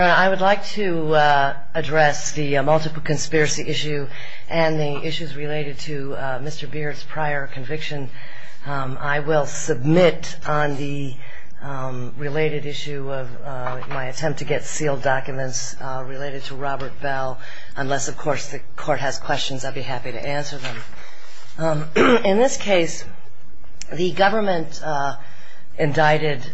I would like to address the multiple conspiracy issue and the issues related to Mr. Beard's prior conviction. I will submit on the related issue of my attempt to get sealed documents related to Robert Bell, unless of course the court has questions, I'd be happy to answer them. In this case, the government indicted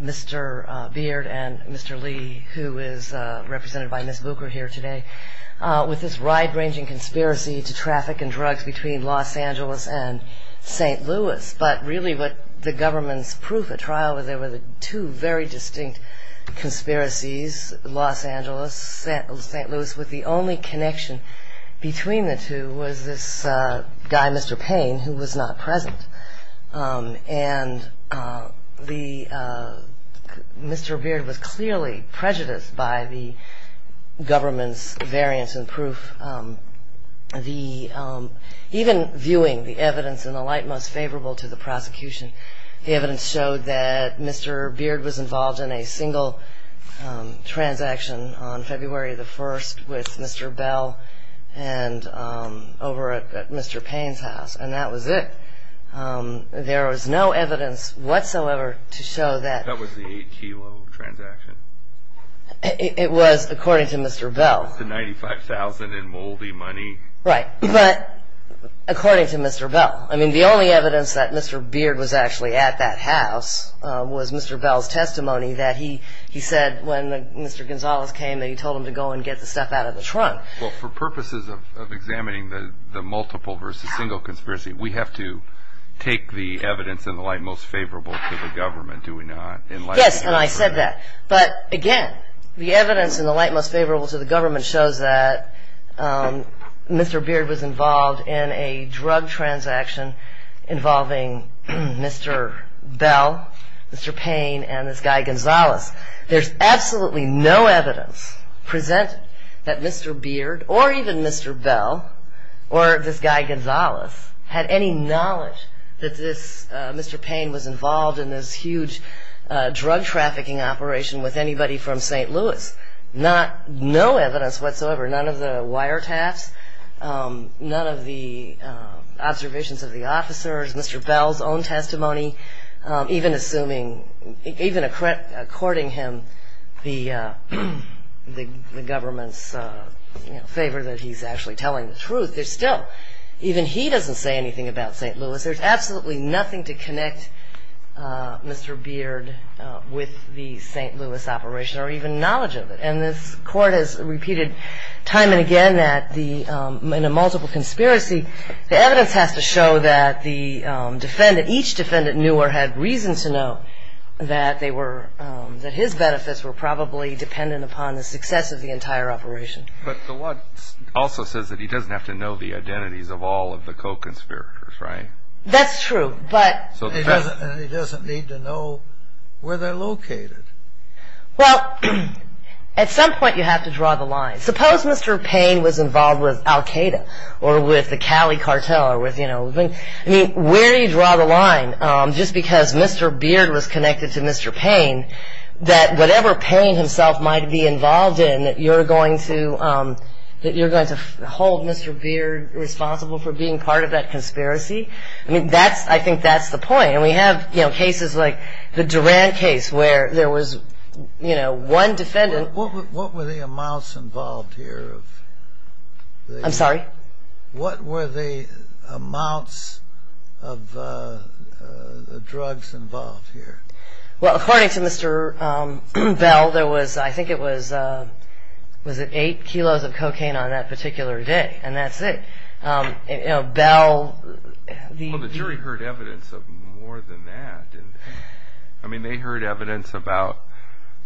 Mr. Beard and Mr. Lee, who is represented by Ms. Bucher here today, with this wide-ranging conspiracy to traffic and drugs between Los Angeles and St. Louis. But really what the government's proof at trial was there were two very distinct conspiracies, Los Angeles and St. Louis, with the only connection between the two was this guy, Mr. Payne, who was not present. And Mr. Beard was clearly prejudiced by the government's variance in proof. Even viewing the evidence in the light most favorable to the prosecution, the evidence showed that Mr. Beard was involved in a single transaction on February 1st with Mr. Bell over at Mr. Payne's house, and that was it. There was no evidence whatsoever to show that. That was the 8-kilo transaction? It was, according to Mr. Bell. It was the $95,000 in moldy money? Right, but according to Mr. Bell. I mean, the only evidence that Mr. Beard was actually at that house was Mr. Bell's testimony that he said when Mr. Gonzalez came that he told him to go and get the stuff out of the trunk. Well, for purposes of examining the multiple versus single conspiracy, we have to take the evidence in the light most favorable to the government, do we not? Yes, and I said that. But again, the evidence in the light most favorable to the government shows that Mr. Beard was involved in a drug transaction involving Mr. Bell, Mr. Payne, and this guy Gonzalez. There's absolutely no evidence presented that Mr. Beard or even Mr. Bell or this guy Gonzalez had any knowledge that Mr. Payne was involved in this huge drug trafficking operation with anybody from St. Louis. There's no evidence whatsoever, none of the wiretaps, none of the observations of the officers, Mr. Bell's own testimony, even according to him, the government's favor that he's actually telling the truth. There's still, even he doesn't say anything about St. Louis, there's absolutely nothing to connect Mr. Beard with the St. Louis operation or even knowledge of it. And this Court has repeated time and again that in a multiple conspiracy, the evidence has to show that each defendant knew or had reason to know that his benefits were probably dependent upon the success of the entire operation. But the law also says that he doesn't have to know the identities of all of the co-conspirators, right? That's true, but... He doesn't need to know where they're located. Well, at some point you have to draw the line. I'm sorry? What were the amounts of drugs involved here? Well, according to Mr. Bell, there was, I think it was, was it eight kilos of cocaine on that particular day, and that's it. You know, Bell... Well, the jury heard evidence of more than that. I mean, they heard evidence about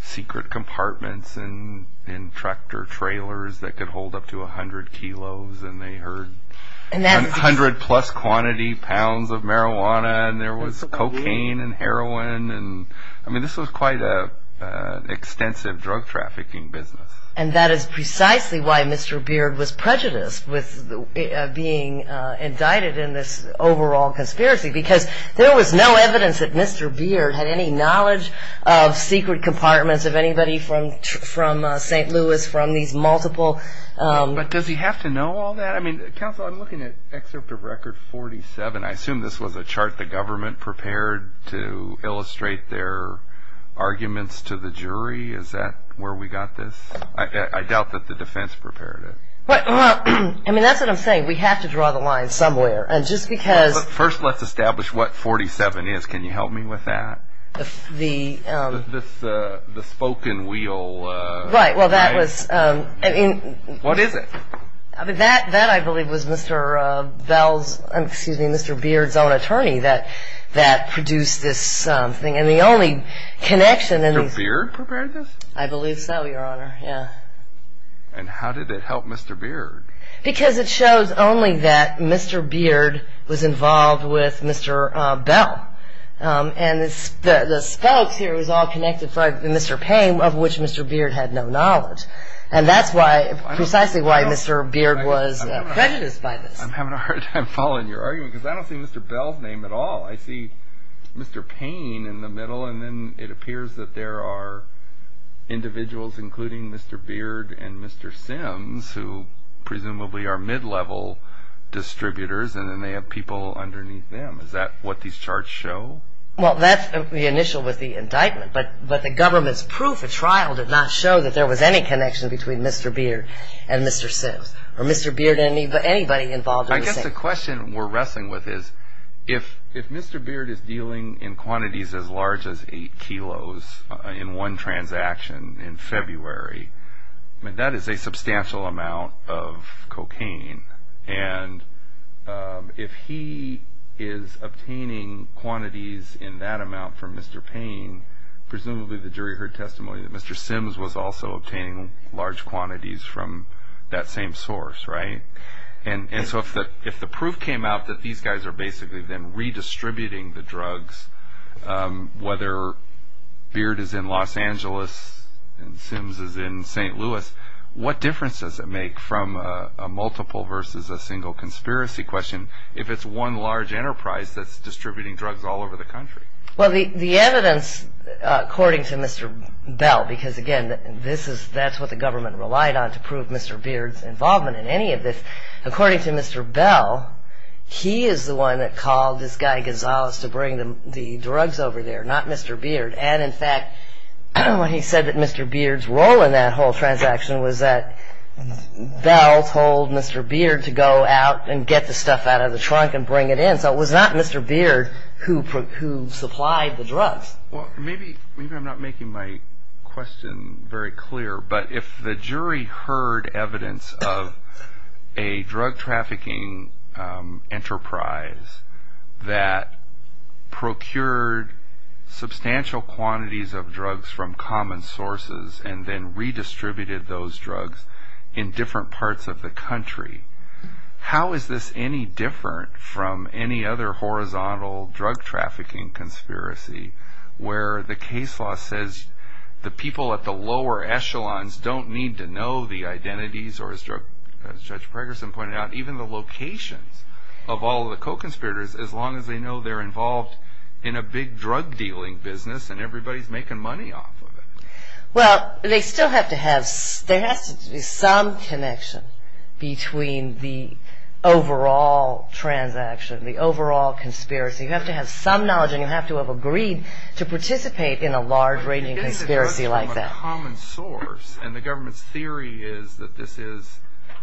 secret compartments in tractor trailers that could hold up to 100 kilos, and they heard 100 plus quantity pounds of marijuana, and there was cocaine and heroin, and I mean, this was quite an extensive drug trafficking business. And that is precisely why Mr. Beard was prejudiced with being indicted in this overall conspiracy, because there was no evidence that Mr. Beard had any knowledge of secret compartments, of anybody from St. Louis, from these multiple... But does he have to know all that? I mean, counsel, I'm looking at excerpt of record 47. I assume this was a chart the government prepared to illustrate their arguments to the jury. Is that where we got this? I doubt that the defense prepared it. Well, I mean, that's what I'm saying. We have to draw the line somewhere, and just because... First, let's establish what 47 is. Can you help me with that? The... The spoken wheel... Right, well, that was... What is it? That, I believe, was Mr. Bell's... Excuse me, Mr. Beard's own attorney that produced this thing, and the only connection... Mr. Beard prepared this? I believe so, Your Honor, yeah. And how did it help Mr. Beard? Because it shows only that Mr. Beard was involved with Mr. Bell, and the spokes here was all connected by Mr. Payne, of which Mr. Beard had no knowledge. And that's precisely why Mr. Beard was prejudiced by this. I'm having a hard time following your argument, because I don't see Mr. Bell's name at all. I see Mr. Payne in the middle, and then it appears that there are individuals, including Mr. Beard and Mr. Sims, who presumably are mid-level distributors, and then they have people underneath them. Is that what these charts show? Well, that's the initial with the indictment, but the government's proof at trial did not show that there was any connection between Mr. Beard and Mr. Sims, or Mr. Beard and anybody involved in this thing. I guess the question we're wrestling with is, if Mr. Beard is dealing in quantities as large as 8 kilos in one transaction in February, that is a substantial amount of cocaine, and if he is obtaining quantities in that amount from Mr. Payne, presumably the jury heard testimony that Mr. Sims was also obtaining large quantities from that same source, right? And so if the proof came out that these guys are basically then redistributing the drugs, whether Beard is in Los Angeles and Sims is in St. Louis, what difference does it make from a multiple versus a single conspiracy question if it's one large enterprise that's distributing drugs all over the country? Well, the evidence, according to Mr. Bell, because, again, that's what the government relied on to prove Mr. Beard's involvement in any of this. According to Mr. Bell, he is the one that called this guy Gonzalez to bring the drugs over there, not Mr. Beard. And, in fact, when he said that Mr. Beard's role in that whole transaction was that Bell told Mr. Beard to go out and get the stuff out of the trunk and bring it in. So it was not Mr. Beard who supplied the drugs. Well, maybe I'm not making my question very clear, but if the jury heard evidence of a drug trafficking enterprise that procured substantial quantities of drugs from common sources and then redistributed those drugs in different parts of the country, how is this any different from any other horizontal drug trafficking conspiracy where the case law says the people at the lower echelons don't need to know the identities or, as Judge Pregerson pointed out, even the locations of all the co-conspirators, as long as they know they're involved in a big drug-dealing business and everybody's making money off of it? Well, they still have to have some connection between the overall transaction, the overall conspiracy. You have to have some knowledge and you have to have agreed to participate in a large-ranging conspiracy like that. But if it was from a common source and the government's theory is that this is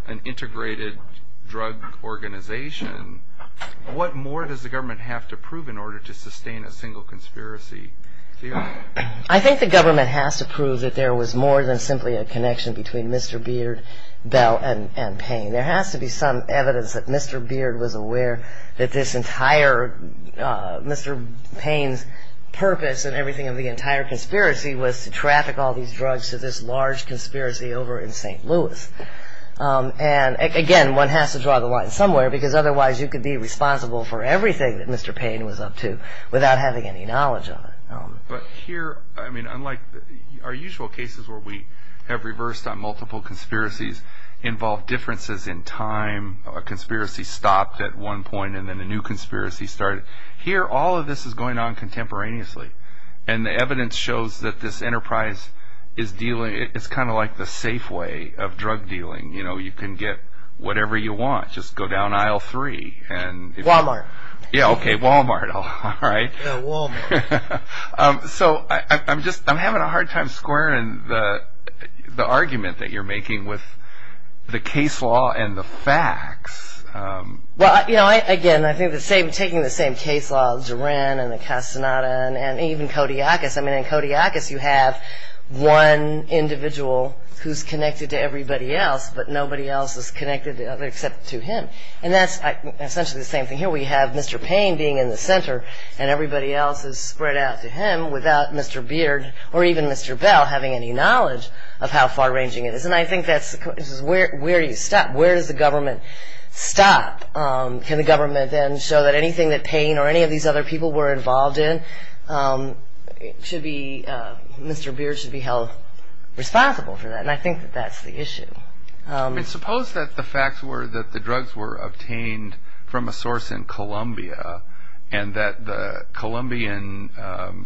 an integrated drug organization, what more does the government have to prove in order to sustain a single conspiracy theory? I think the government has to prove that there was more than simply a connection between Mr. Beard, Bell, and Payne. There has to be some evidence that Mr. Beard was aware that Mr. Payne's purpose and everything of the entire conspiracy was to traffic all these drugs to this large conspiracy over in St. Louis. And, again, one has to draw the line somewhere, because otherwise you could be responsible for everything that Mr. Payne was up to without having any knowledge of it. But here, unlike our usual cases where we have reversed on multiple conspiracies, involved differences in time, a conspiracy stopped at one point and then a new conspiracy started, here all of this is going on contemporaneously. And the evidence shows that this enterprise is dealing, it's kind of like the safe way of drug-dealing. You can get whatever you want, just go down aisle three. Walmart. Yeah, okay, Walmart, all right. Yeah, Walmart. So, I'm having a hard time squaring the argument that you're making with the case law and the facts. Well, again, I think taking the same case law of Duran and the Castaneda and even Kodiakos, I mean, in Kodiakos you have one individual who's connected to everybody else, but nobody else is connected except to him. And that's essentially the same thing here. We have Mr. Payne being in the center and everybody else is spread out to him without Mr. Beard or even Mr. Bell having any knowledge of how far-ranging it is. And I think that's where you stop. Where does the government stop? Can the government then show that anything that Payne or any of these other people were involved in, Mr. Beard should be held responsible for that? And I think that that's the issue. Suppose that the facts were that the drugs were obtained from a source in Colombia and that the Colombian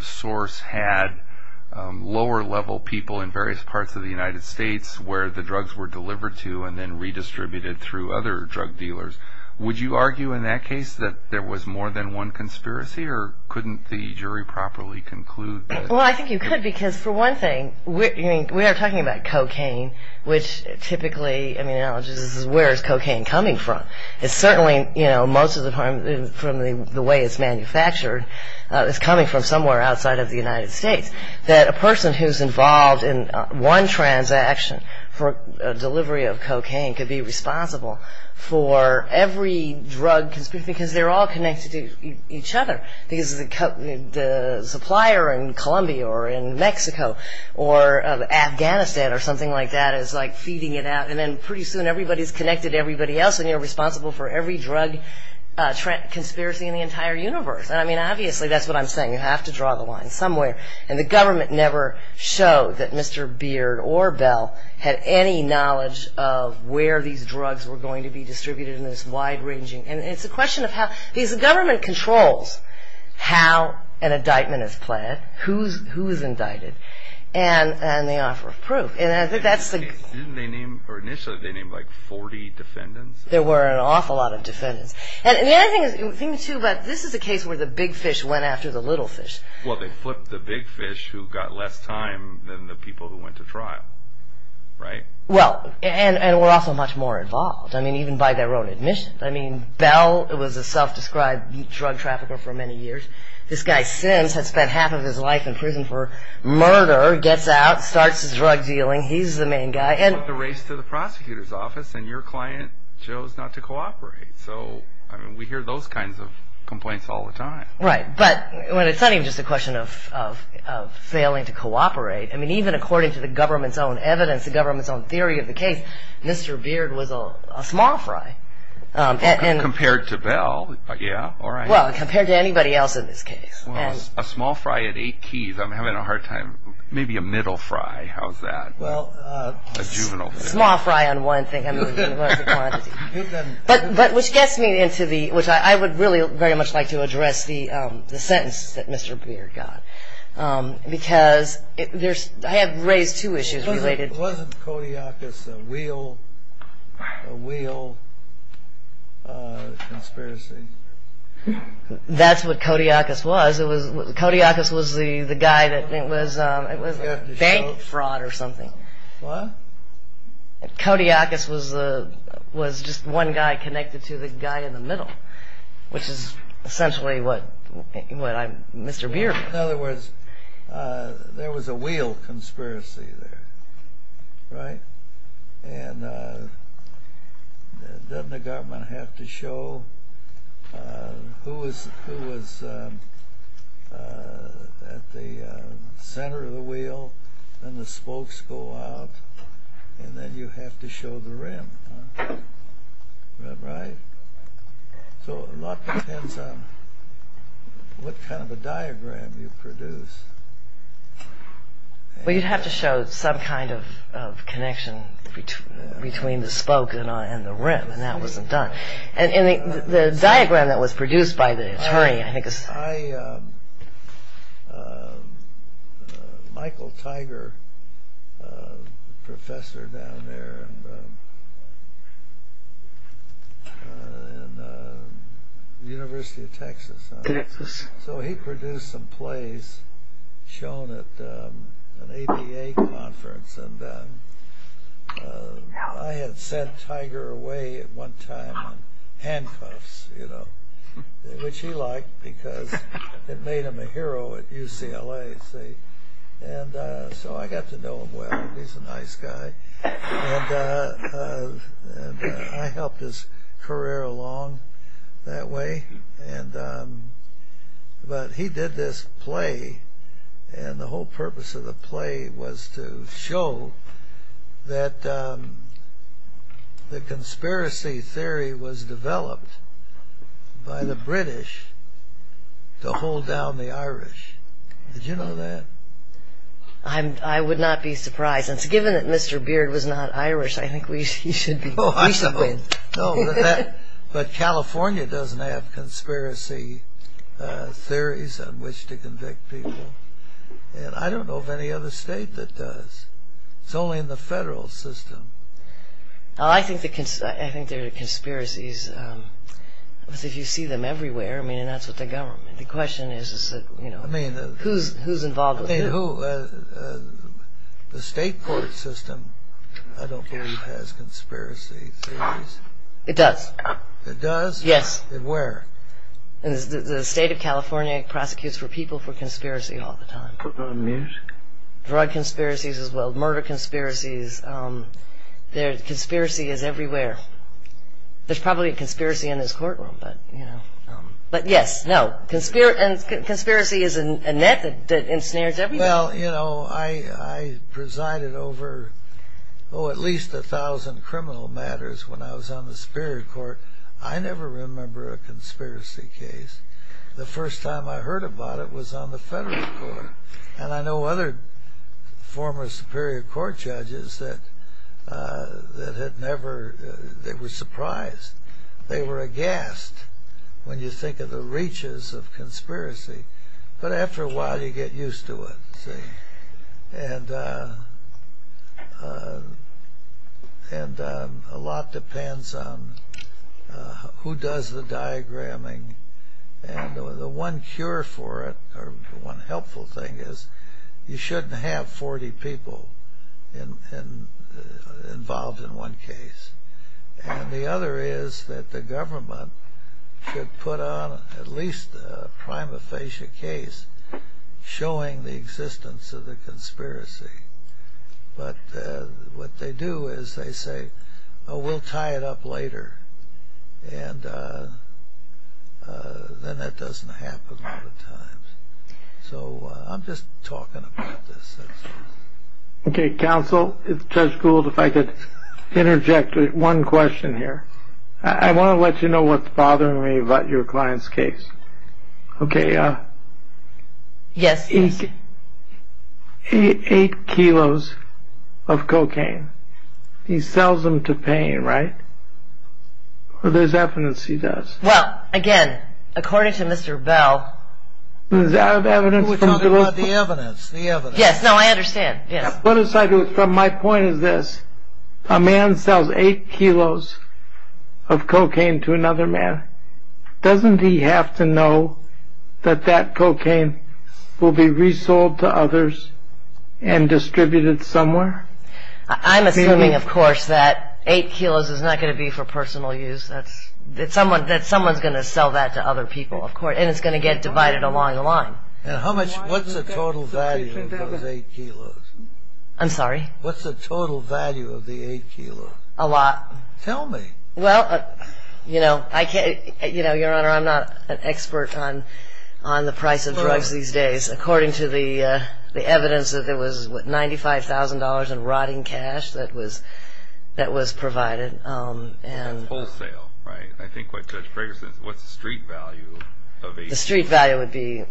source had lower-level people in various parts of the United States where the drugs were delivered to and then redistributed through other drug dealers. Would you argue in that case that there was more than one conspiracy or couldn't the jury properly conclude that? Well, I think you could because, for one thing, we are talking about cocaine, which typically, I mean, where is cocaine coming from? It's certainly, you know, most of the time from the way it's manufactured, it's coming from somewhere outside of the United States. That a person who's involved in one transaction for delivery of cocaine could be responsible for every drug because they're all connected to each other. The supplier in Colombia or in Mexico or Afghanistan or something like that is like feeding it out and then pretty soon everybody's connected to everybody else and you're responsible for every drug conspiracy in the entire universe. I mean, obviously, that's what I'm saying. You have to draw the line somewhere. And the government never showed that Mr. Beard or Bell had any knowledge of where these drugs were going to be distributed in this wide-ranging... And it's a question of how... Because the government controls how an indictment is planned, who's indicted, and they offer proof. And I think that's the... Didn't they name, or initially they named like 40 defendants? There were an awful lot of defendants. And the other thing, too, but this is a case where the big fish went after the little fish. Well, they flipped the big fish who got less time than the people who went to trial, right? Well, and were also much more involved, I mean, even by their own admission. I mean, Bell was a self-described drug trafficker for many years. This guy, Sims, had spent half of his life in prison for murder, gets out, starts his drug dealing. He's the main guy. He took the race to the prosecutor's office, and your client chose not to cooperate. So, I mean, we hear those kinds of complaints all the time. Right, but it's not even just a question of failing to cooperate. I mean, even according to the government's own evidence, the government's own theory of the case, Mr. Beard was a small fry. Compared to Bell, yeah, all right. Well, compared to anybody else in this case. Well, a small fry at eight keys. I'm having a hard time. Maybe a middle fry. How's that? Well, a small fry on one thing. I mean, what's the quantity? But which gets me into the, which I would really very much like to address, the sentence that Mr. Beard got, because I have raised two issues related. Wasn't Kodiakus a wheel conspiracy? That's what Kodiakus was. Kodiakus was the guy that, it was bank fraud or something. What? Kodiakus was just one guy connected to the guy in the middle, which is essentially what Mr. Beard was. In other words, there was a wheel conspiracy there, right? And doesn't the government have to show who was at the center of the wheel, and the spokes go out, and then you have to show the rim, right? So a lot depends on what kind of a diagram you produce. Well, you'd have to show some kind of connection between the spoke and the rim, and that wasn't done. And the diagram that was produced by the attorney, I think, is... Michael Tiger, a professor down there in the University of Texas. So he produced some plays shown at an ABA conference, and I had sent Tiger away at one time in handcuffs, you know, which he liked because it made him a hero at UCLA, see? And so I got to know him well. He's a nice guy, and I helped his career along that way. But he did this play, and the whole purpose of the play was to show that the conspiracy theory was developed by the British to hold down the Irish. Did you know that? I would not be surprised. And given that Mr. Beard was not Irish, I think we should be... No, but California doesn't have conspiracy theories on which to convict people, and I don't know of any other state that does. It's only in the federal system. I think there are conspiracies if you see them everywhere, I mean, and that's with the government. The question is, you know, who's involved with who? The state court system, I don't believe, has conspiracy theories. It does. It does? Yes. Where? The state of California prosecutes for people for conspiracy all the time. Put them on music? Drug conspiracies as well, murder conspiracies. Conspiracy is everywhere. There's probably a conspiracy in this courtroom, but, you know. But yes, no, conspiracy is a method that ensnares everybody. Well, you know, I presided over, oh, at least a thousand criminal matters when I was on the Superior Court. I never remember a conspiracy case. The first time I heard about it was on the federal court, and I know other former Superior Court judges that had never, they were surprised. They were aghast when you think of the reaches of conspiracy, but after a while you get used to it, see. And a lot depends on who does the diagramming. And the one cure for it, or one helpful thing, is you shouldn't have 40 people involved in one case. And the other is that the government should put on at least a prima facie case showing the existence of the conspiracy. But what they do is they say, oh, we'll tie it up later, and then that doesn't happen all the time. So I'm just talking about this. Okay, counsel, Judge Gould, if I could interject one question here. I want to let you know what's bothering me about your client's case. Okay. Yes. Eight kilos of cocaine. He sells them to pain, right? There's evidence he does. Well, again, according to Mr. Bell. Is that evidence? We're talking about the evidence, the evidence. Yes, no, I understand. Yes. From my point of this, a man sells eight kilos of cocaine to another man. Doesn't he have to know that that cocaine will be resold to others and distributed somewhere? I'm assuming, of course, that eight kilos is not going to be for personal use, that someone's going to sell that to other people, of course, and it's going to get divided along the line. What's the total value of those eight kilos? I'm sorry? What's the total value of the eight kilos? A lot. Tell me. Well, you know, Your Honor, I'm not an expert on the price of drugs these days. According to the evidence, there was $95,000 in rotting cash that was provided. That's wholesale, right? I think what Judge Ferguson is, what's the street value of eight kilos? The street value would be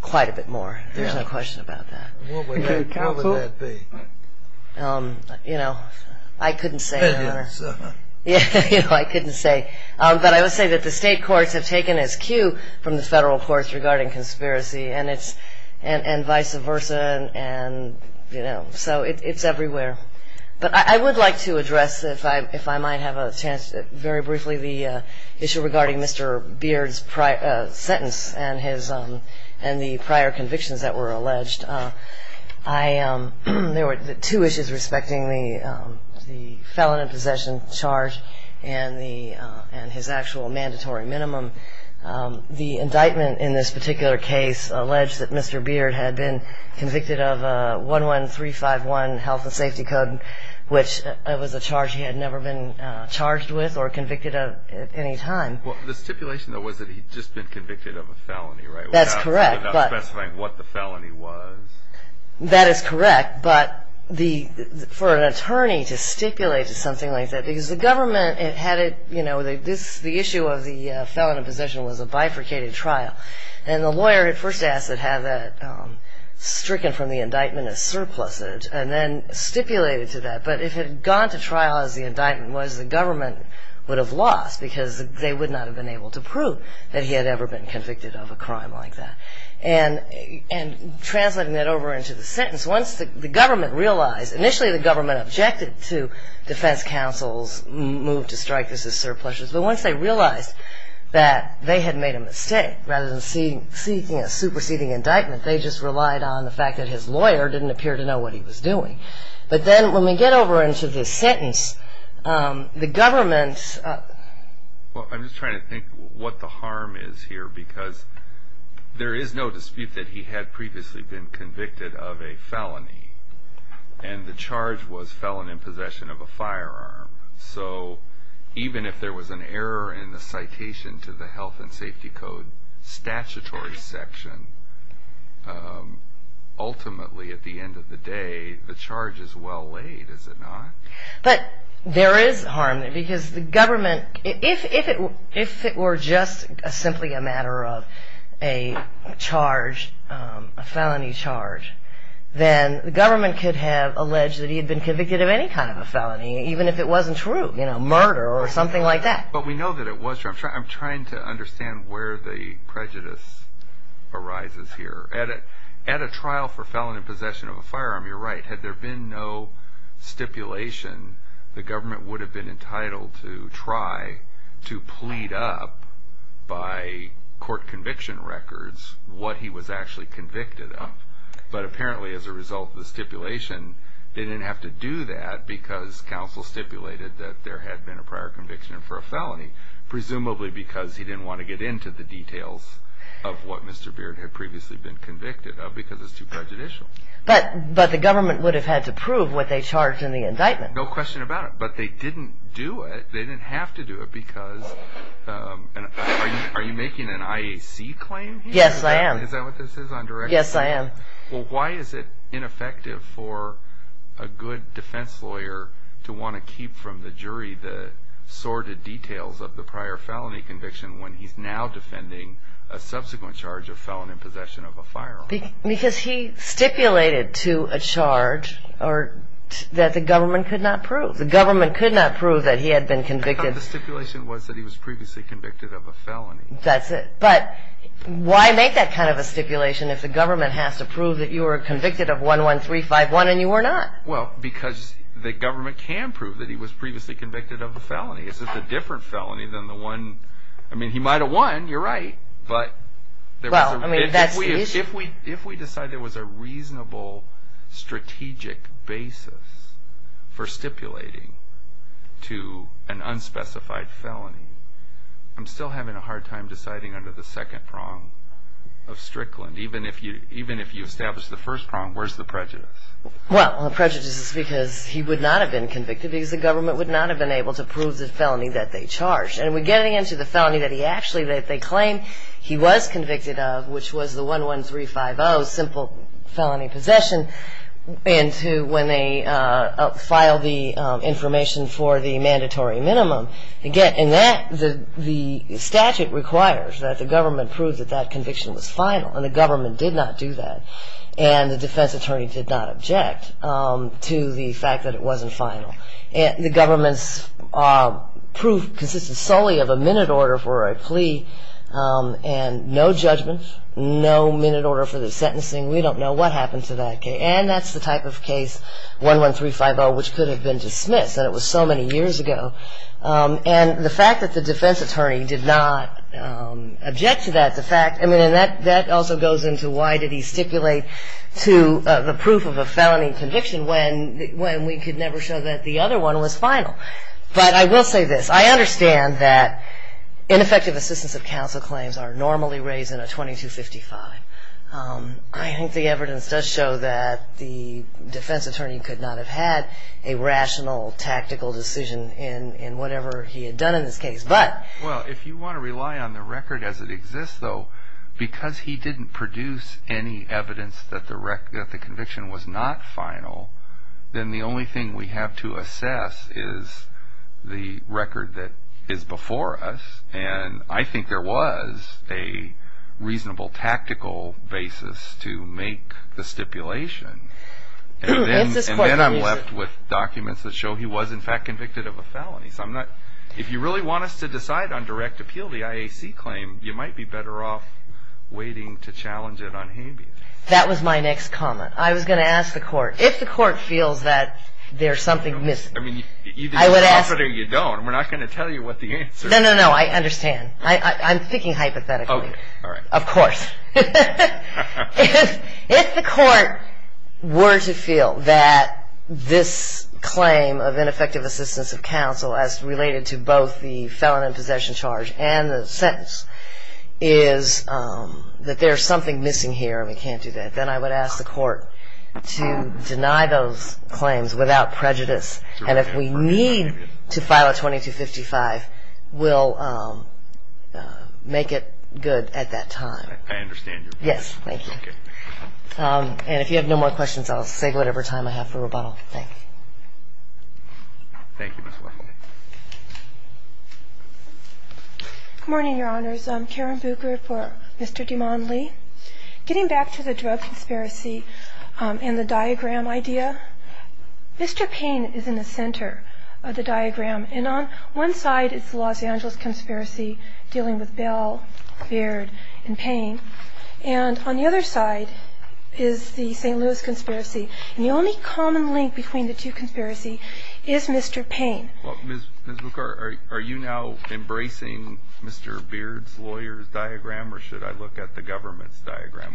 quite a bit more. There's no question about that. What would that be? You know, I couldn't say, Your Honor. I couldn't say. But I would say that the state courts have taken its cue from the federal courts regarding conspiracy and vice versa, and, you know, so it's everywhere. But I would like to address, if I might have a chance, very briefly the issue regarding Mr. Beard's sentence and the prior convictions that were alleged. There were two issues respecting the felon in possession charge and his actual mandatory minimum. The indictment in this particular case alleged that Mr. Beard had been convicted of 11351 health and safety code, which was a charge he had never been charged with or convicted of at any time. Well, the stipulation, though, was that he'd just been convicted of a felony, right? That's correct. Without specifying what the felony was. That is correct, but for an attorney to stipulate something like that, because the government had it, you know, the issue of the felon in possession was a bifurcated trial, and the lawyer had first asked to have that stricken from the indictment as surplusage and then stipulated to that. But if it had gone to trial as the indictment was, the government would have lost because they would not have been able to prove that he had ever been convicted of a crime like that. And translating that over into the sentence, once the government realized, initially the government objected to defense counsel's move to strike this as surplusage, but once they realized that they had made a mistake rather than seeking a superseding indictment, they just relied on the fact that his lawyer didn't appear to know what he was doing. But then when we get over into the sentence, the government... Well, I'm just trying to think what the harm is here, because there is no dispute that he had previously been convicted of a felony, and the charge was felon in possession of a firearm. So even if there was an error in the citation to the Health and Safety Code statutory section, ultimately at the end of the day, the charge is well laid, is it not? But there is harm there, because the government... If it were just simply a matter of a felony charge, then the government could have alleged that he had been convicted of any kind of a felony, even if it wasn't true, you know, murder or something like that. But we know that it was true. I'm trying to understand where the prejudice arises here. At a trial for felon in possession of a firearm, you're right, had there been no stipulation, the government would have been entitled to try to plead up, by court conviction records, what he was actually convicted of. But apparently as a result of the stipulation, they didn't have to do that, because counsel stipulated that there had been a prior conviction for a felony, presumably because he didn't want to get into the details of what Mr. Beard had previously been convicted of, because it's too prejudicial. But the government would have had to prove what they charged in the indictment. No question about it. But they didn't do it, they didn't have to do it, because... Are you making an IAC claim here? Yes, I am. Is that what this is, on direct claim? Yes, I am. Well, why is it ineffective for a good defense lawyer to want to keep from the jury the sordid details of the prior felony conviction when he's now defending a subsequent charge of felon in possession of a firearm? Because he stipulated to a charge that the government could not prove. The government could not prove that he had been convicted. The stipulation was that he was previously convicted of a felony. That's it. But why make that kind of a stipulation if the government has to prove that you were convicted of 11351 and you were not? Well, because the government can prove that he was previously convicted of a felony. It's just a different felony than the one... I mean, he might have won, you're right, but... Well, I mean, that's the issue. If we decide there was a reasonable strategic basis for stipulating to an unspecified felony, I'm still having a hard time deciding under the second prong of Strickland. Even if you establish the first prong, where's the prejudice? Well, the prejudice is because he would not have been convicted because the government would not have been able to prove the felony that they charged. And we're getting into the felony that they claim he was convicted of, which was the 11350, simple felony possession, into when they filed the information for the mandatory minimum. Again, the statute requires that the government prove that that conviction was final, and the government did not do that. And the defense attorney did not object to the fact that it wasn't final. The government's proof consisted solely of a minute order for a plea and no judgment, no minute order for the sentencing. We don't know what happened to that case. And that's the type of case, 11350, which could have been dismissed. That was so many years ago. And the fact that the defense attorney did not object to that fact, that also goes into why did he stipulate to the proof of a felony conviction when we could never show that the other one was final. But I will say this. I understand that ineffective assistance of counsel claims are normally raised in a 2255. I think the evidence does show that the defense attorney could not have had a rational, tactical decision in whatever he had done in this case. But... Well, if you want to rely on the record as it exists, though, because he didn't produce any evidence that the conviction was not final, then the only thing we have to assess is the record that is before us. And I think there was a reasonable, tactical basis to make the stipulation. And then I'm left with documents that show he was, in fact, convicted of a felony. So if you really want us to decide on direct appeal, the IAC claim, you might be better off waiting to challenge it on Habeas. That was my next comment. I was going to ask the court. If the court feels that there's something missing, I would ask... I mean, either you offer it or you don't. We're not going to tell you what the answer is. No, no, no. I understand. I'm thinking hypothetically. Okay. All right. Of course. If the court were to feel that this claim of ineffective assistance of counsel as related to both the felon in possession charge and the sentence is that there's something missing here and we can't do that, then I would ask the court to deny those claims without prejudice. And if we need to file a 2255, we'll make it good at that time. I understand your point. Yes, thank you. Okay. And if you have no more questions, I'll save whatever time I have for rebuttal. Thank you. Thank you, Ms. Wessel. Good morning, Your Honors. I'm Karen Buchert for Mr. Duman Lee. Getting back to the drug conspiracy and the diagram idea, Mr. Payne is in the center of the diagram. And on one side is the Los Angeles conspiracy dealing with Bell, Beard, and Payne. And on the other side is the St. Louis conspiracy. And the only common link between the two conspiracies is Mr. Payne. Ms. Buchert, are you now embracing Mr. Beard's lawyer's diagram or should I look at the government's diagram?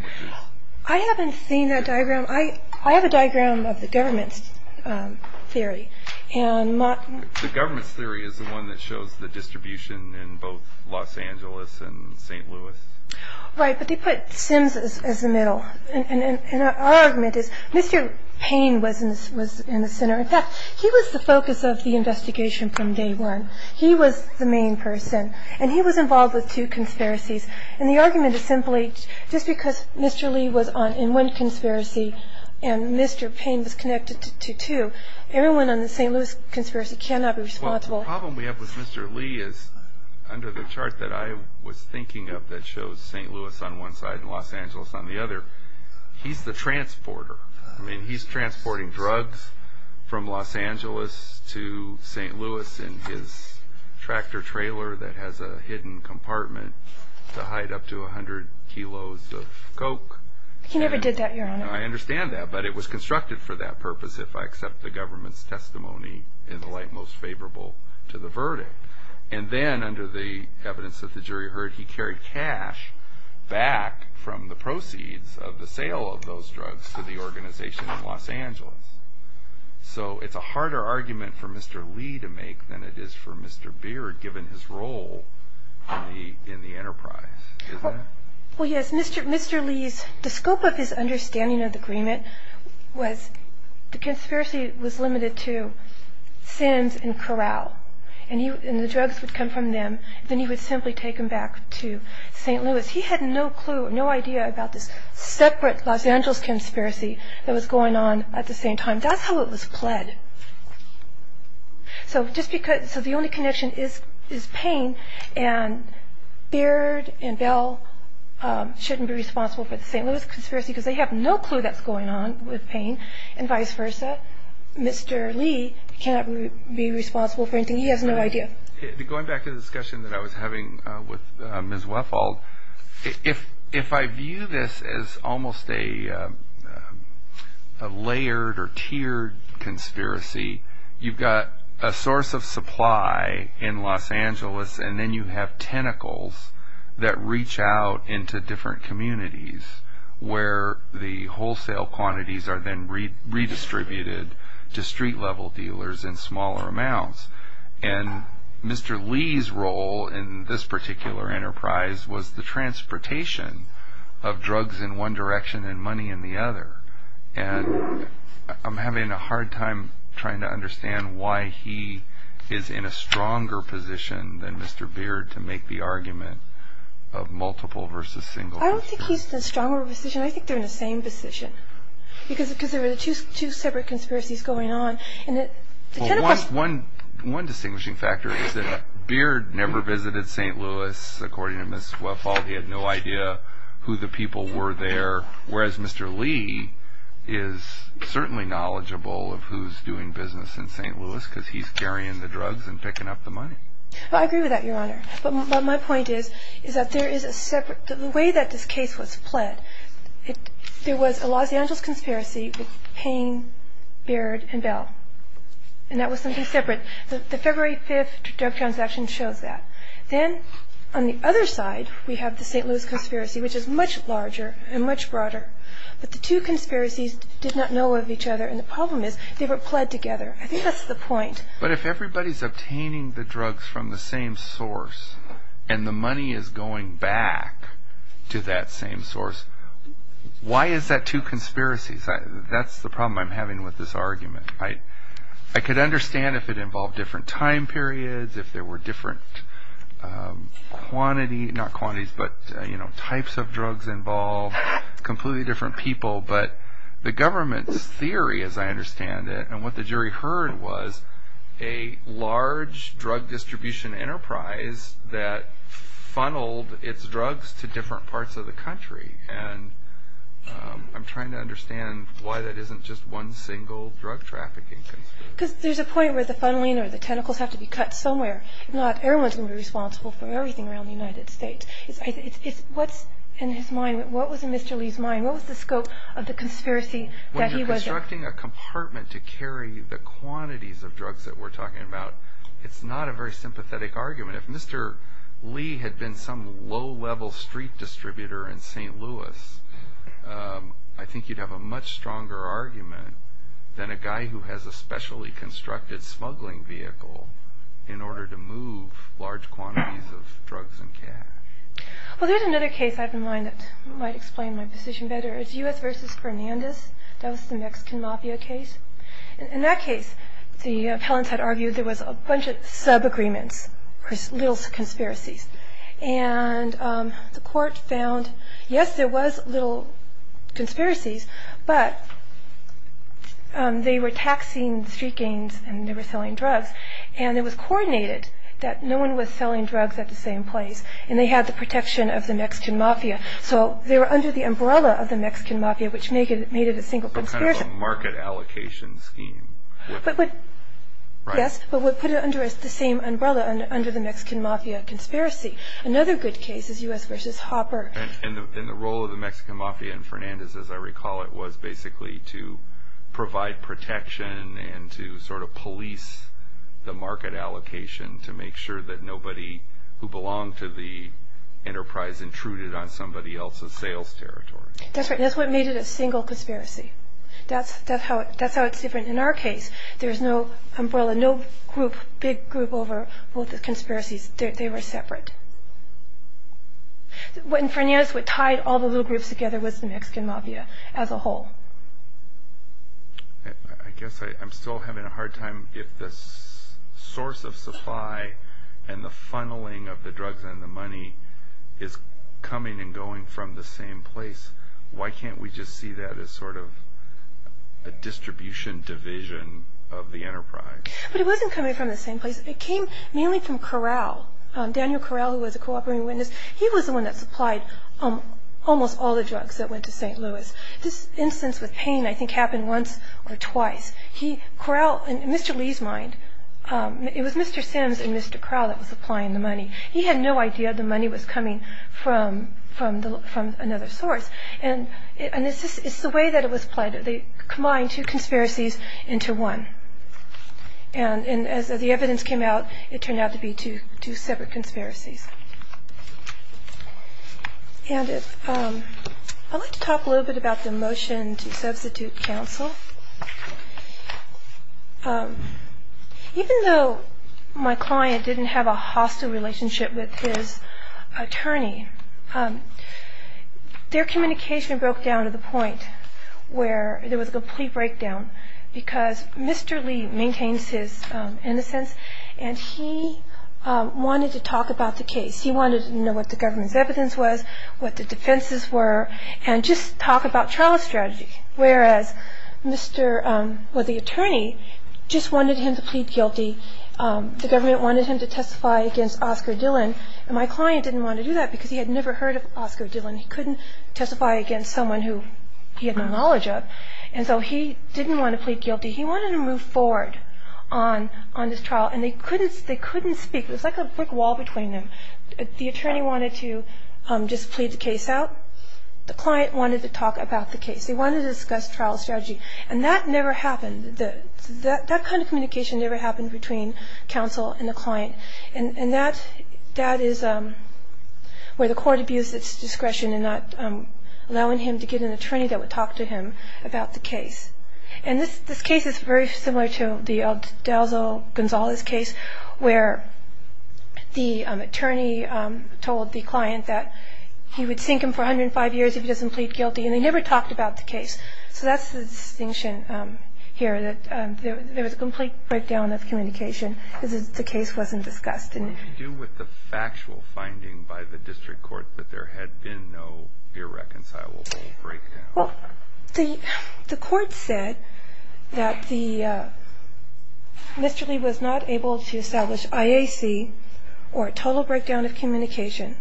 I haven't seen that diagram. I have a diagram of the government's theory. The government's theory is the one that shows the distribution in both Los Angeles and St. Louis. Right, but they put Sims as the middle. And our argument is Mr. Payne was in the center. In fact, he was the focus of the investigation from day one. He was the main person. And he was involved with two conspiracies. And the argument is simply just because Mr. Lee was in one conspiracy and Mr. Payne was connected to two, everyone on the St. Louis conspiracy cannot be responsible. Well, the problem we have with Mr. Lee is under the chart that I was thinking of that shows St. Louis on one side and Los Angeles on the other, he's the transporter. I mean, he's transporting drugs from Los Angeles to St. Louis in his tractor trailer that has a hidden compartment to hide up to 100 kilos of coke. He never did that, Your Honor. I understand that, but it was constructed for that purpose if I accept the government's testimony in the light most favorable to the verdict. And then under the evidence that the jury heard, he carried cash back from the proceeds of the sale of those drugs to the organization in Los Angeles. So it's a harder argument for Mr. Lee to make than it is for Mr. Beard given his role in the enterprise, isn't it? Well, yes, Mr. Lee's, the scope of his understanding of the agreement was the conspiracy was limited to Sims and Corral. And the drugs would come from them. Then he would simply take them back to St. Louis. He had no clue, no idea about this separate Los Angeles conspiracy that was going on at the same time. That's how it was pled. So the only connection is pain, and Beard and Bell shouldn't be responsible for the St. Louis conspiracy because they have no clue that's going on with pain and vice versa. Mr. Lee cannot be responsible for anything. He has no idea. Going back to the discussion that I was having with Ms. Wethald, if I view this as almost a layered or tiered conspiracy, you've got a source of supply in Los Angeles, and then you have tentacles that reach out into different communities where the wholesale quantities are then redistributed to street-level dealers in smaller amounts. And Mr. Lee's role in this particular enterprise was the transportation of drugs in one direction and money in the other. And I'm having a hard time trying to understand why he is in a stronger position than Mr. Beard to make the argument of multiple versus single. I don't think he's in a stronger position. I think they're in the same position because there are two separate conspiracies going on. One distinguishing factor is that Beard never visited St. Louis. According to Ms. Wethald, he had no idea who the people were there, whereas Mr. Lee is certainly knowledgeable of who's doing business in St. Louis because he's carrying the drugs and picking up the money. I agree with that, Your Honor. But my point is that the way that this case was fled, there was a Los Angeles conspiracy with Payne, Beard, and Bell, and that was something separate. The February 5th drug transaction shows that. Then on the other side, we have the St. Louis conspiracy, which is much larger and much broader. But the two conspiracies did not know of each other, and the problem is they were pled together. I think that's the point. But if everybody's obtaining the drugs from the same source and the money is going back to that same source, why is that two conspiracies? That's the problem I'm having with this argument. I could understand if it involved different time periods, if there were different quantity, not quantities, but types of drugs involved, completely different people. But the government's theory, as I understand it, and what the jury heard was a large drug distribution enterprise that funneled its drugs to different parts of the country. And I'm trying to understand why that isn't just one single drug trafficking conspiracy. Because there's a point where the funneling or the tentacles have to be cut somewhere. Not everyone's going to be responsible for everything around the United States. What was in Mr. Lee's mind? What was the scope of the conspiracy? When you're constructing a compartment to carry the quantities of drugs that we're talking about, it's not a very sympathetic argument. If Mr. Lee had been some low-level street distributor in St. Louis, I think you'd have a much stronger argument than a guy who has a specially constructed smuggling vehicle in order to move large quantities of drugs and cash. Well, there's another case I have in mind that might explain my position better. It's U.S. versus Fernandez. That was the Mexican Mafia case. In that case, the appellants had argued there was a bunch of sub-agreements, little conspiracies. And the court found, yes, there was little conspiracies, but they were taxing street gangs and they were selling drugs. And it was coordinated that no one was selling drugs at the same place. And they had the protection of the Mexican Mafia. So they were under the umbrella of the Mexican Mafia, which made it a single conspiracy. A kind of a market allocation scheme. Yes, but we put it under the same umbrella, under the Mexican Mafia conspiracy. Another good case is U.S. versus Hopper. And the role of the Mexican Mafia in Fernandez, as I recall it, was basically to provide protection and to sort of police the market allocation to make sure that nobody who belonged to the enterprise intruded on somebody else's sales territory. That's right, and that's what made it a single conspiracy. That's how it's different in our case. There's no umbrella, no group, big group over all the conspiracies. They were separate. And Fernandez, what tied all the little groups together was the Mexican Mafia as a whole. I guess I'm still having a hard time. If the source of supply and the funneling of the drugs and the money is coming and going from the same place, why can't we just see that as sort of a distribution division of the enterprise? But it wasn't coming from the same place. It came mainly from Corral. Daniel Corral, who was a cooperating witness, he was the one that supplied almost all the drugs that went to St. Louis. This instance with Payne, I think, happened once or twice. Corral, in Mr. Lee's mind, it was Mr. Sims and Mr. Corral that were supplying the money. He had no idea the money was coming from another source. It's the way that it was played. They combined two conspiracies into one. And as the evidence came out, it turned out to be two separate conspiracies. I'd like to talk a little bit about the motion to substitute counsel. Even though my client didn't have a hostile relationship with his attorney, their communication broke down to the point where there was a complete breakdown because Mr. Lee maintains his innocence and he wanted to talk about the case. He wanted to know what the government's evidence was, what the defenses were, and just talk about trial strategy. Whereas the attorney just wanted him to plead guilty. The government wanted him to testify against Oscar Dillon. And my client didn't want to do that because he had never heard of Oscar Dillon. He couldn't testify against someone he had no knowledge of. And so he didn't want to plead guilty. He wanted to move forward on this trial. And they couldn't speak. There was like a brick wall between them. The attorney wanted to just plead the case out. The client wanted to talk about the case. They wanted to discuss trial strategy. And that never happened. That kind of communication never happened between counsel and the client. And that is where the court abused its discretion in not allowing him to get an attorney that would talk to him about the case. And this case is very similar to the Aldoza-Gonzalez case where the attorney told the client that he would sink him for 105 years if he doesn't plead guilty. And they never talked about the case. So that's the distinction here, that there was a complete breakdown of communication because the case wasn't discussed. What did you do with the factual finding by the district court that there had been no irreconcilable breakdown? Well, the court said that Mr. Lee was not able to establish IAC or a total breakdown of communication.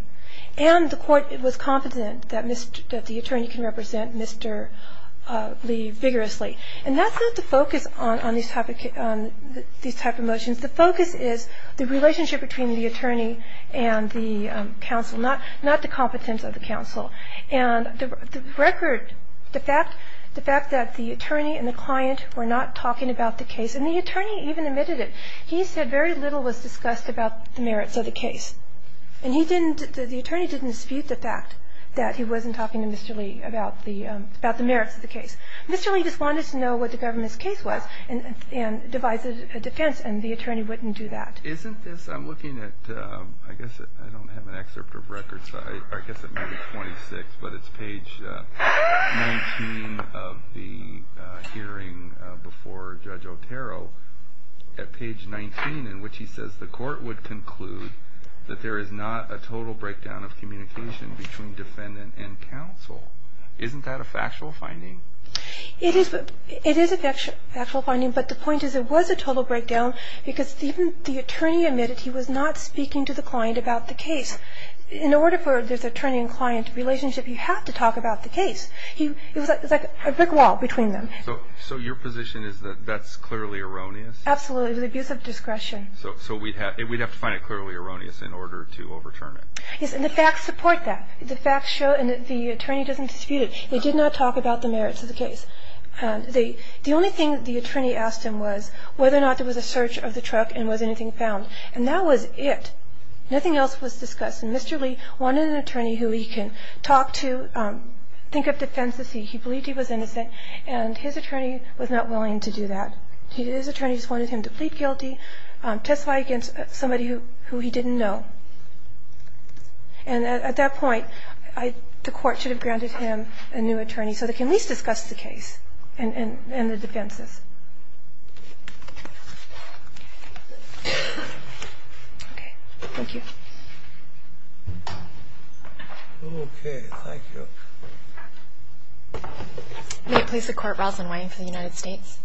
And the court was confident that the attorney can represent Mr. Lee vigorously. And that's not the focus on these type of motions. The focus is the relationship between the attorney and the counsel, not the competence of the counsel. And the record, the fact that the attorney and the client were not talking about the case, and the attorney even admitted it, he said very little was discussed about the merits of the case. And the attorney didn't dispute the fact that he wasn't talking to Mr. Lee about the merits of the case. Mr. Lee just wanted to know what the government's case was and devised a defense, and the attorney wouldn't do that. Isn't this, I'm looking at, I guess I don't have an excerpt of records, I guess it may be 26, but it's page 19 of the hearing before Judge Otero, at page 19 in which he says the court would conclude that there is not a total breakdown of communication between defendant and counsel. Isn't that a factual finding? It is a factual finding, but the point is it was a total breakdown because even the attorney admitted he was not speaking to the client about the case. In order for there to be an attorney and client relationship, you have to talk about the case. It was like a brick wall between them. So your position is that that's clearly erroneous? Absolutely, it was abuse of discretion. So we'd have to find it clearly erroneous in order to overturn it. Yes, and the facts support that. The facts show, and the attorney doesn't dispute it, they did not talk about the merits of the case. The only thing the attorney asked him was whether or not there was a search of the truck and was anything found, and that was it. Nothing else was discussed, and Mr. Lee wanted an attorney who he can talk to, think of defense as he believed he was innocent, and his attorney was not willing to do that. His attorney just wanted him to plead guilty, testify against somebody who he didn't know. And at that point, the court should have granted him a new attorney so they can at least discuss the case and the defenses. Okay. Thank you. Okay, thank you. May it please the Court, Rosalyn Wayne for the United States.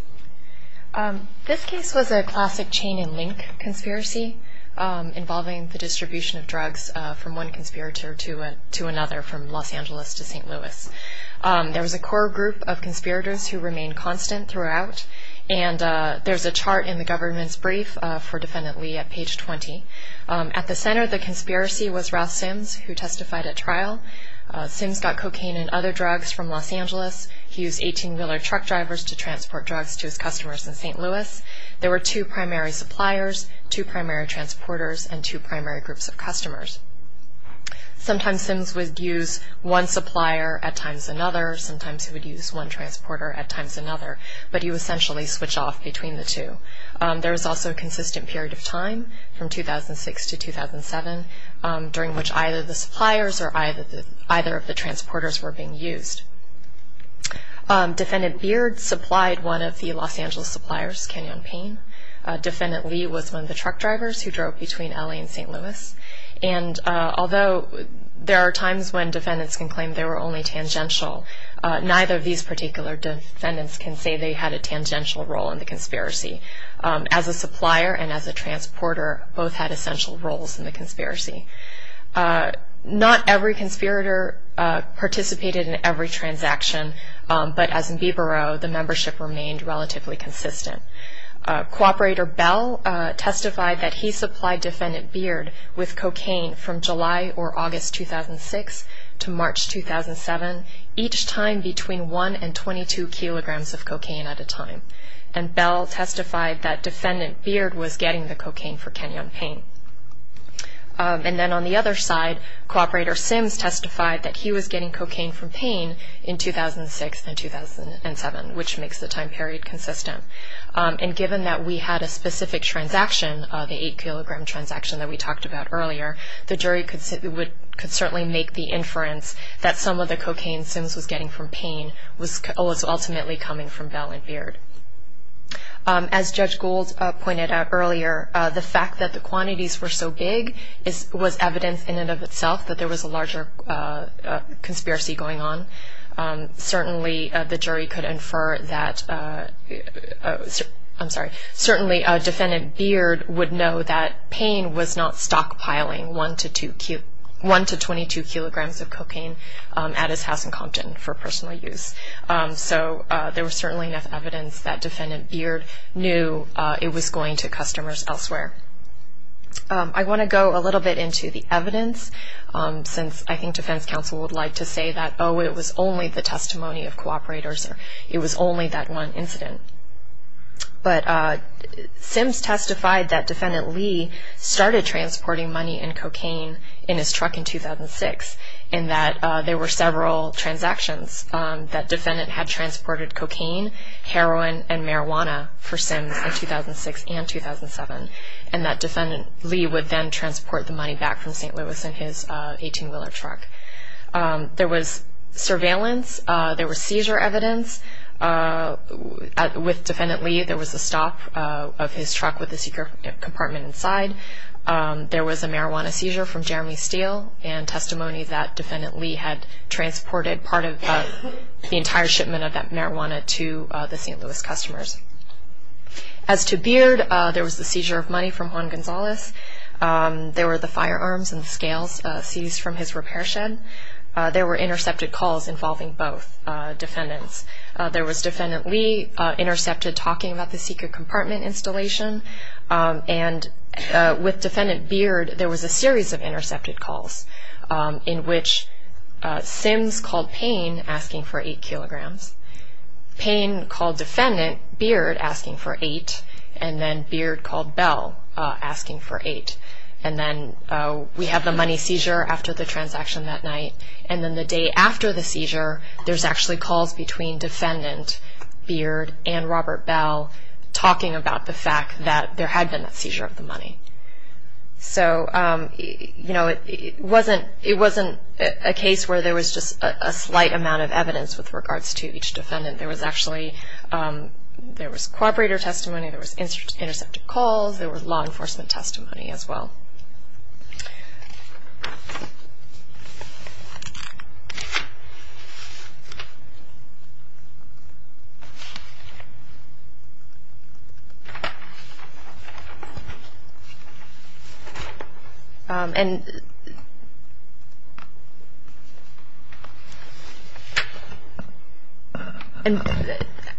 This case was a classic chain-and-link conspiracy involving the distribution of drugs from one conspirator to another from Los Angeles to St. Louis. There was a core group of conspirators who remained constant throughout, and there's a chart in the government's brief for Defendant Lee at page 20. At the center of the conspiracy was Ralph Sims, who testified at trial. Sims got cocaine and other drugs from Los Angeles. He used 18-wheeler truck drivers to transport drugs to his customers in St. Louis. There were two primary suppliers, two primary transporters, and two primary groups of customers. Sometimes Sims would use one supplier at times another. Sometimes he would use one transporter at times another, but he would essentially switch off between the two. There was also a consistent period of time from 2006 to 2007, during which either the suppliers or either of the transporters were being used. Defendant Beard supplied one of the Los Angeles suppliers, Canyon Payne. Defendant Lee was one of the truck drivers who drove between L.A. and St. Louis. And although there are times when defendants can claim they were only tangential, neither of these particular defendants can say they had a tangential role in the conspiracy. As a supplier and as a transporter, both had essential roles in the conspiracy. Not every conspirator participated in every transaction, but as in Beboro, the membership remained relatively consistent. Cooperator Bell testified that he supplied Defendant Beard with cocaine from July or August 2006 to March 2007, each time between 1 and 22 kilograms of cocaine at a time. And Bell testified that Defendant Beard was getting the cocaine for Canyon Payne. And then on the other side, Cooperator Sims testified that he was getting cocaine from Payne in 2006 and 2007, which makes the time period consistent. And given that we had a specific transaction, the 8-kilogram transaction that we talked about earlier, the jury could certainly make the inference that some of the cocaine Sims was getting from Payne was ultimately coming from Bell and Beard. As Judge Gould pointed out earlier, the fact that the quantities were so big was evidence in and of itself that there was a larger conspiracy going on. Certainly, the jury could infer that, I'm sorry, certainly Defendant Beard would know that Payne was not stockpiling 1 to 2, 1 to 22 kilograms of cocaine at his house in Compton for personal use. So there was certainly enough evidence that Defendant Beard knew it was going to customers elsewhere. I want to go a little bit into the evidence since I think defense counsel would like to say that, oh, it was only the testimony of cooperators or it was only that one incident. But Sims testified that Defendant Lee started transporting money and cocaine in his truck in 2006 in that there were several transactions that defendant had transported cocaine, heroin, and marijuana for Sims in 2006 and 2007, and that Defendant Lee would then transport the money back from St. Louis in his 18-wheeler truck. There was surveillance. There was seizure evidence. With Defendant Lee, there was a stop of his truck with a secret compartment inside. There was a marijuana seizure from Jeremy Steele and testimony that Defendant Lee had transported part of the entire shipment of that marijuana to the St. Louis customers. As to Beard, there was the seizure of money from Juan Gonzalez. There were the firearms and scales seized from his repair shed. There were intercepted calls involving both defendants. There was Defendant Lee intercepted talking about the secret compartment installation, and with Defendant Beard, there was a series of intercepted calls in which Sims called Payne asking for 8 kilograms, Payne called Defendant Beard asking for 8, and then Beard called Bell asking for 8. And then we have the money seizure after the transaction that night, and then the day after the seizure, there's actually calls between Defendant Beard and Robert Bell talking about the fact that there had been a seizure of the money. So, you know, it wasn't a case where there was just a slight amount of evidence with regards to each defendant. There was actually co-operator testimony, there was intercepted calls, there was law enforcement testimony as well.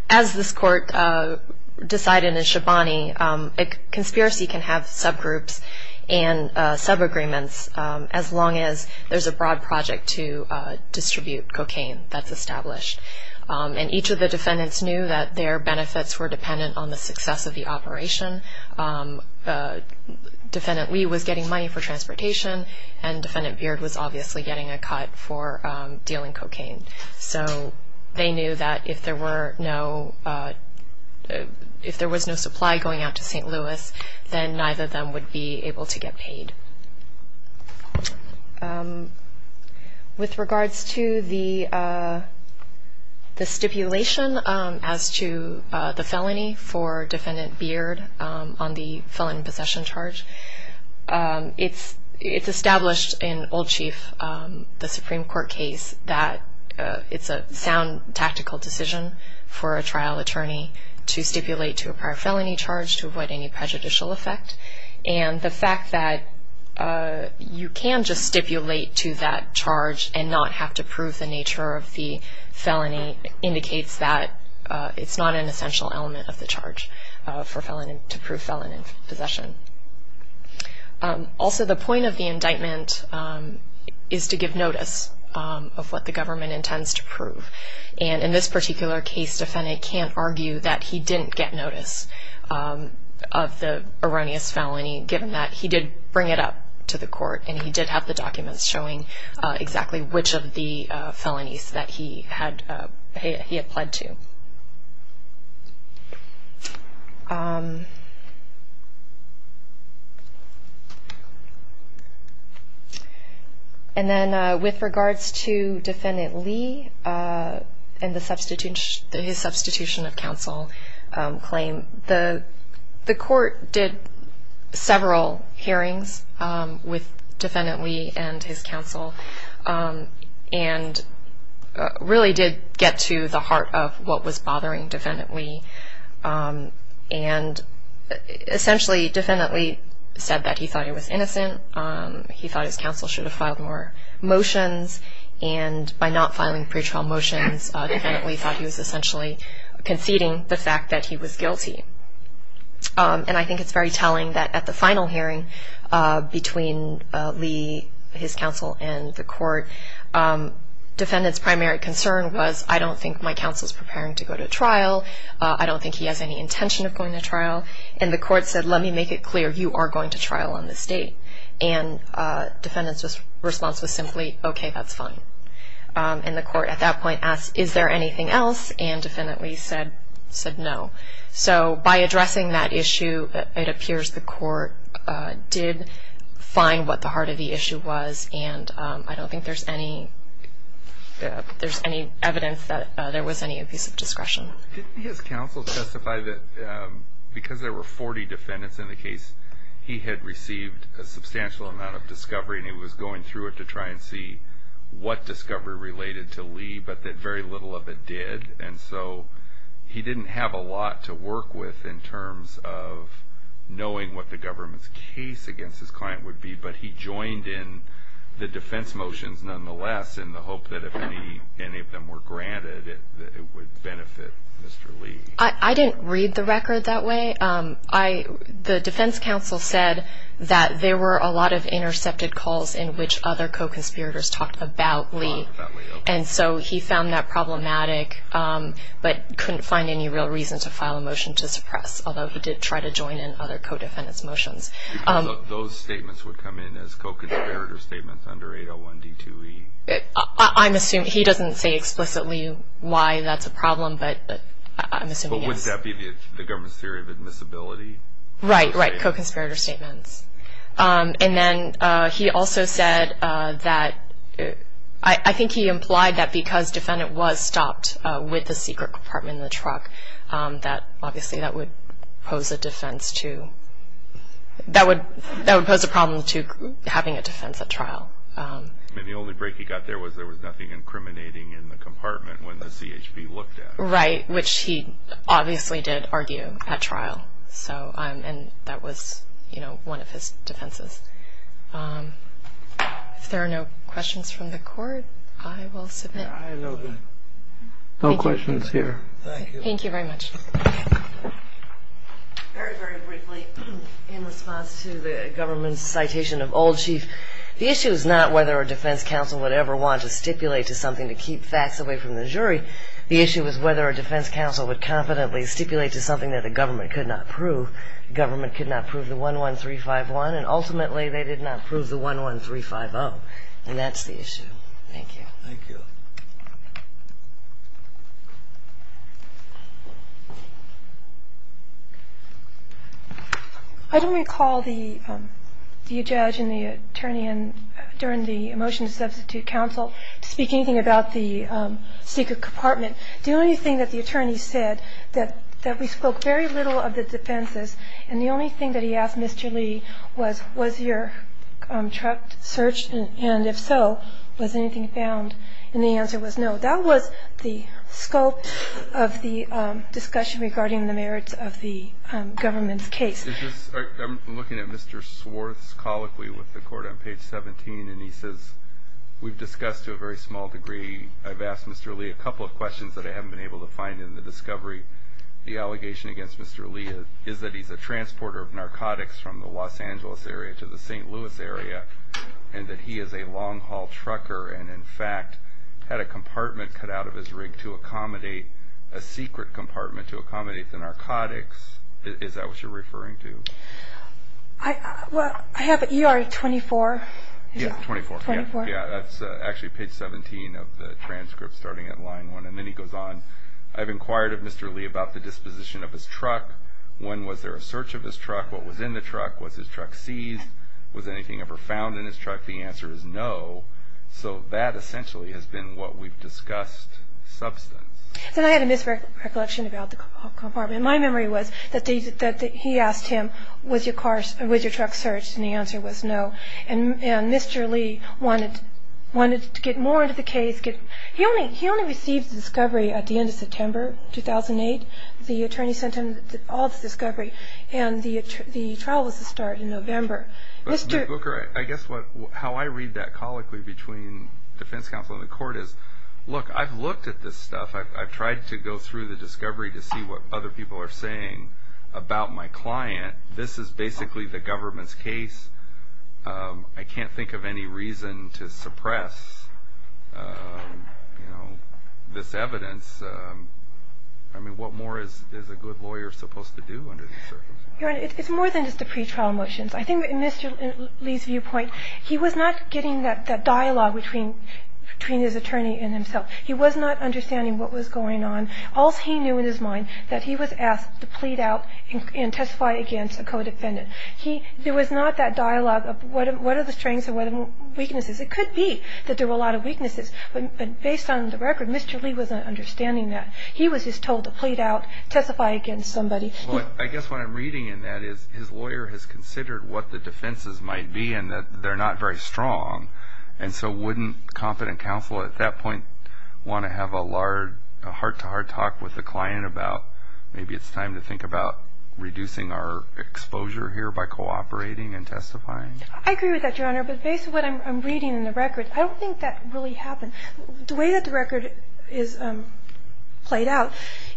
As this court decided in Shabani, a conspiracy can have subgroups and subagreements as long as there's a broad project to distribute cocaine that's established. And each of the defendants knew that their benefits were dependent on the success of the operation. Defendant Lee was getting money for transportation, and Defendant Beard was obviously getting a cut for dealing cocaine. So they knew that if there was no supply going out to St. Louis, then neither of them would be able to get paid. With regards to the stipulation as to the felony for Defendant Beard on the felon possession charge, it's established in Old Chief, the Supreme Court case, that it's a sound tactical decision for a trial attorney to stipulate to a prior felony charge to avoid any prejudicial effect. And the fact that you can just stipulate to that charge and not have to prove the nature of the felony indicates that it's not an essential element of the charge to prove felon in possession. Also, the point of the indictment is to give notice of what the government intends to prove. And in this particular case, defendant can't argue that he didn't get notice of the erroneous felony, given that he did bring it up to the court and he did have the documents showing exactly which of the felonies that he had pled to. And then with regards to Defendant Lee and his substitution of counsel claim, the court did several hearings with Defendant Lee and his counsel and really did get to the heart of what was bothering Defendant Lee. And essentially, Defendant Lee said that he thought he was innocent, he thought his counsel should have filed more motions, and by not filing pretrial motions, Defendant Lee thought he was essentially conceding the fact that he was guilty. And I think it's very telling that at the final hearing between Lee, his counsel, and the court, Defendant's primary concern was, I don't think my counsel is preparing to go to trial, I don't think he has any intention of going to trial. And the court said, let me make it clear, you are going to trial on this date. And Defendant's response was simply, okay, that's fine. And the court at that point asked, is there anything else? And Defendant Lee said no. So by addressing that issue, it appears the court did find what the heart of the issue was, and I don't think there's any evidence that there was any abuse of discretion. Didn't his counsel testify that because there were 40 defendants in the case, he had received a substantial amount of discovery and he was going through it to try and see what discovery related to Lee, but that very little of it did. And so he didn't have a lot to work with in terms of knowing what the government's case against his client would be, but he joined in the defense motions nonetheless in the hope that if any of them were granted, it would benefit Mr. Lee. I didn't read the record that way. The defense counsel said that there were a lot of intercepted calls in which other co-conspirators talked about Lee, and so he found that problematic but couldn't find any real reason to file a motion to suppress, although he did try to join in other co-defendant's motions. Those statements would come in as co-conspirator statements under 801 D2E. I'm assuming he doesn't say explicitly why that's a problem, but I'm assuming yes. Wouldn't that be the government's theory of admissibility? Right, right, co-conspirator statements. And then he also said that I think he implied that because defendant was stopped with a secret compartment in the truck, obviously that would pose a problem to having a defense at trial. And the only break he got there was there was nothing incriminating in the compartment when the CHP looked at it. Right, which he obviously did argue at trial, and that was one of his defenses. If there are no questions from the court, I will submit. No questions here. Thank you. Thank you very much. Very, very briefly, in response to the government's citation of old chief, the issue is not whether a defense counsel would ever want to stipulate to something to keep facts away from the jury. The issue is whether a defense counsel would confidently stipulate to something that the government could not prove. The government could not prove the 11351, and ultimately they did not prove the 11350, and that's the issue. Thank you. Thank you. I don't recall the judge and the attorney during the motion to substitute counsel speaking about the secret compartment. The only thing that the attorney said that we spoke very little of the defenses, and the only thing that he asked Mr. Lee was, was your truck searched, and if so, was anything found, and the answer was no. That was the scope of the discussion regarding the merits of the government's case. I'm looking at Mr. Swarth's colloquy with the court on page 17, and he says, we've discussed to a very small degree. I've asked Mr. Lee a couple of questions that I haven't been able to find in the discovery. The allegation against Mr. Lee is that he's a transporter of narcotics from the Los Angeles area to the St. Louis area, and that he is a long-haul trucker, and in fact, had a compartment cut out of his rig to accommodate, a secret compartment to accommodate the narcotics. Is that what you're referring to? Well, I have ER 24. Yeah, 24. 24. Yeah, that's actually page 17 of the transcript starting at line one, and then he goes on. I've inquired of Mr. Lee about the disposition of his truck. When was there a search of his truck? What was in the truck? Was his truck seized? Was anything ever found in his truck? The answer is no, so that essentially has been what we've discussed substance. Then I had a misrecollection about the compartment. My memory was that he asked him, was your truck searched, and the answer was no, and Mr. Lee wanted to get more into the case. He only received the discovery at the end of September 2008. The attorney sent him all the discovery, and the trial was to start in November. Mr. Booker, I guess how I read that colloquy between defense counsel and the court is, look, I've looked at this stuff. I've tried to go through the discovery to see what other people are saying about my client. This is basically the government's case. I can't think of any reason to suppress, you know, this evidence. I mean, what more is a good lawyer supposed to do under these circumstances? Your Honor, it's more than just the pretrial motions. I think in Mr. Lee's viewpoint, he was not getting that dialogue between his attorney and himself. He was not understanding what was going on. All he knew in his mind that he was asked to plead out and testify against a co-defendant. There was not that dialogue of what are the strengths and what are the weaknesses. It could be that there were a lot of weaknesses, but based on the record, Mr. Lee wasn't understanding that. He was just told to plead out, testify against somebody. Well, I guess what I'm reading in that is his lawyer has considered what the defenses might be and that they're not very strong, and so wouldn't competent counsel at that point want to have a hard-to-hard talk with the client about maybe it's time to think about reducing our exposure here by cooperating and testifying? I agree with that, Your Honor. But based on what I'm reading in the record, I don't think that really happened. The way that the record is played out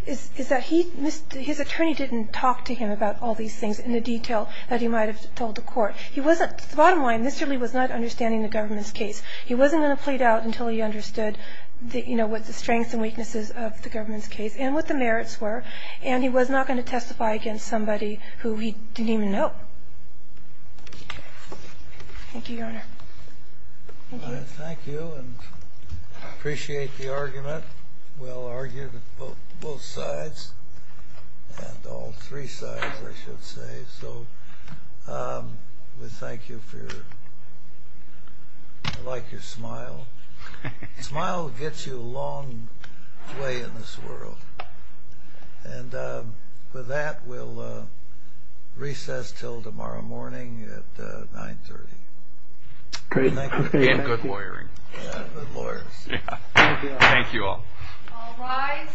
is that his attorney didn't talk to him about all these things in the detail that he might have told the court. He wasn't, the bottom line, Mr. Lee was not understanding the government's case. What the strengths and weaknesses of the government's case and what the merits were, and he was not going to testify against somebody who he didn't even know. Thank you, Your Honor. Thank you. Thank you, and appreciate the argument. Well-argued on both sides, and all three sides, I should say. So we thank you for your, I like your smile. A smile gets you a long way in this world. And with that, we'll recess until tomorrow morning at 9.30. Again, good lawyering. Yeah, good lawyers. Thank you all.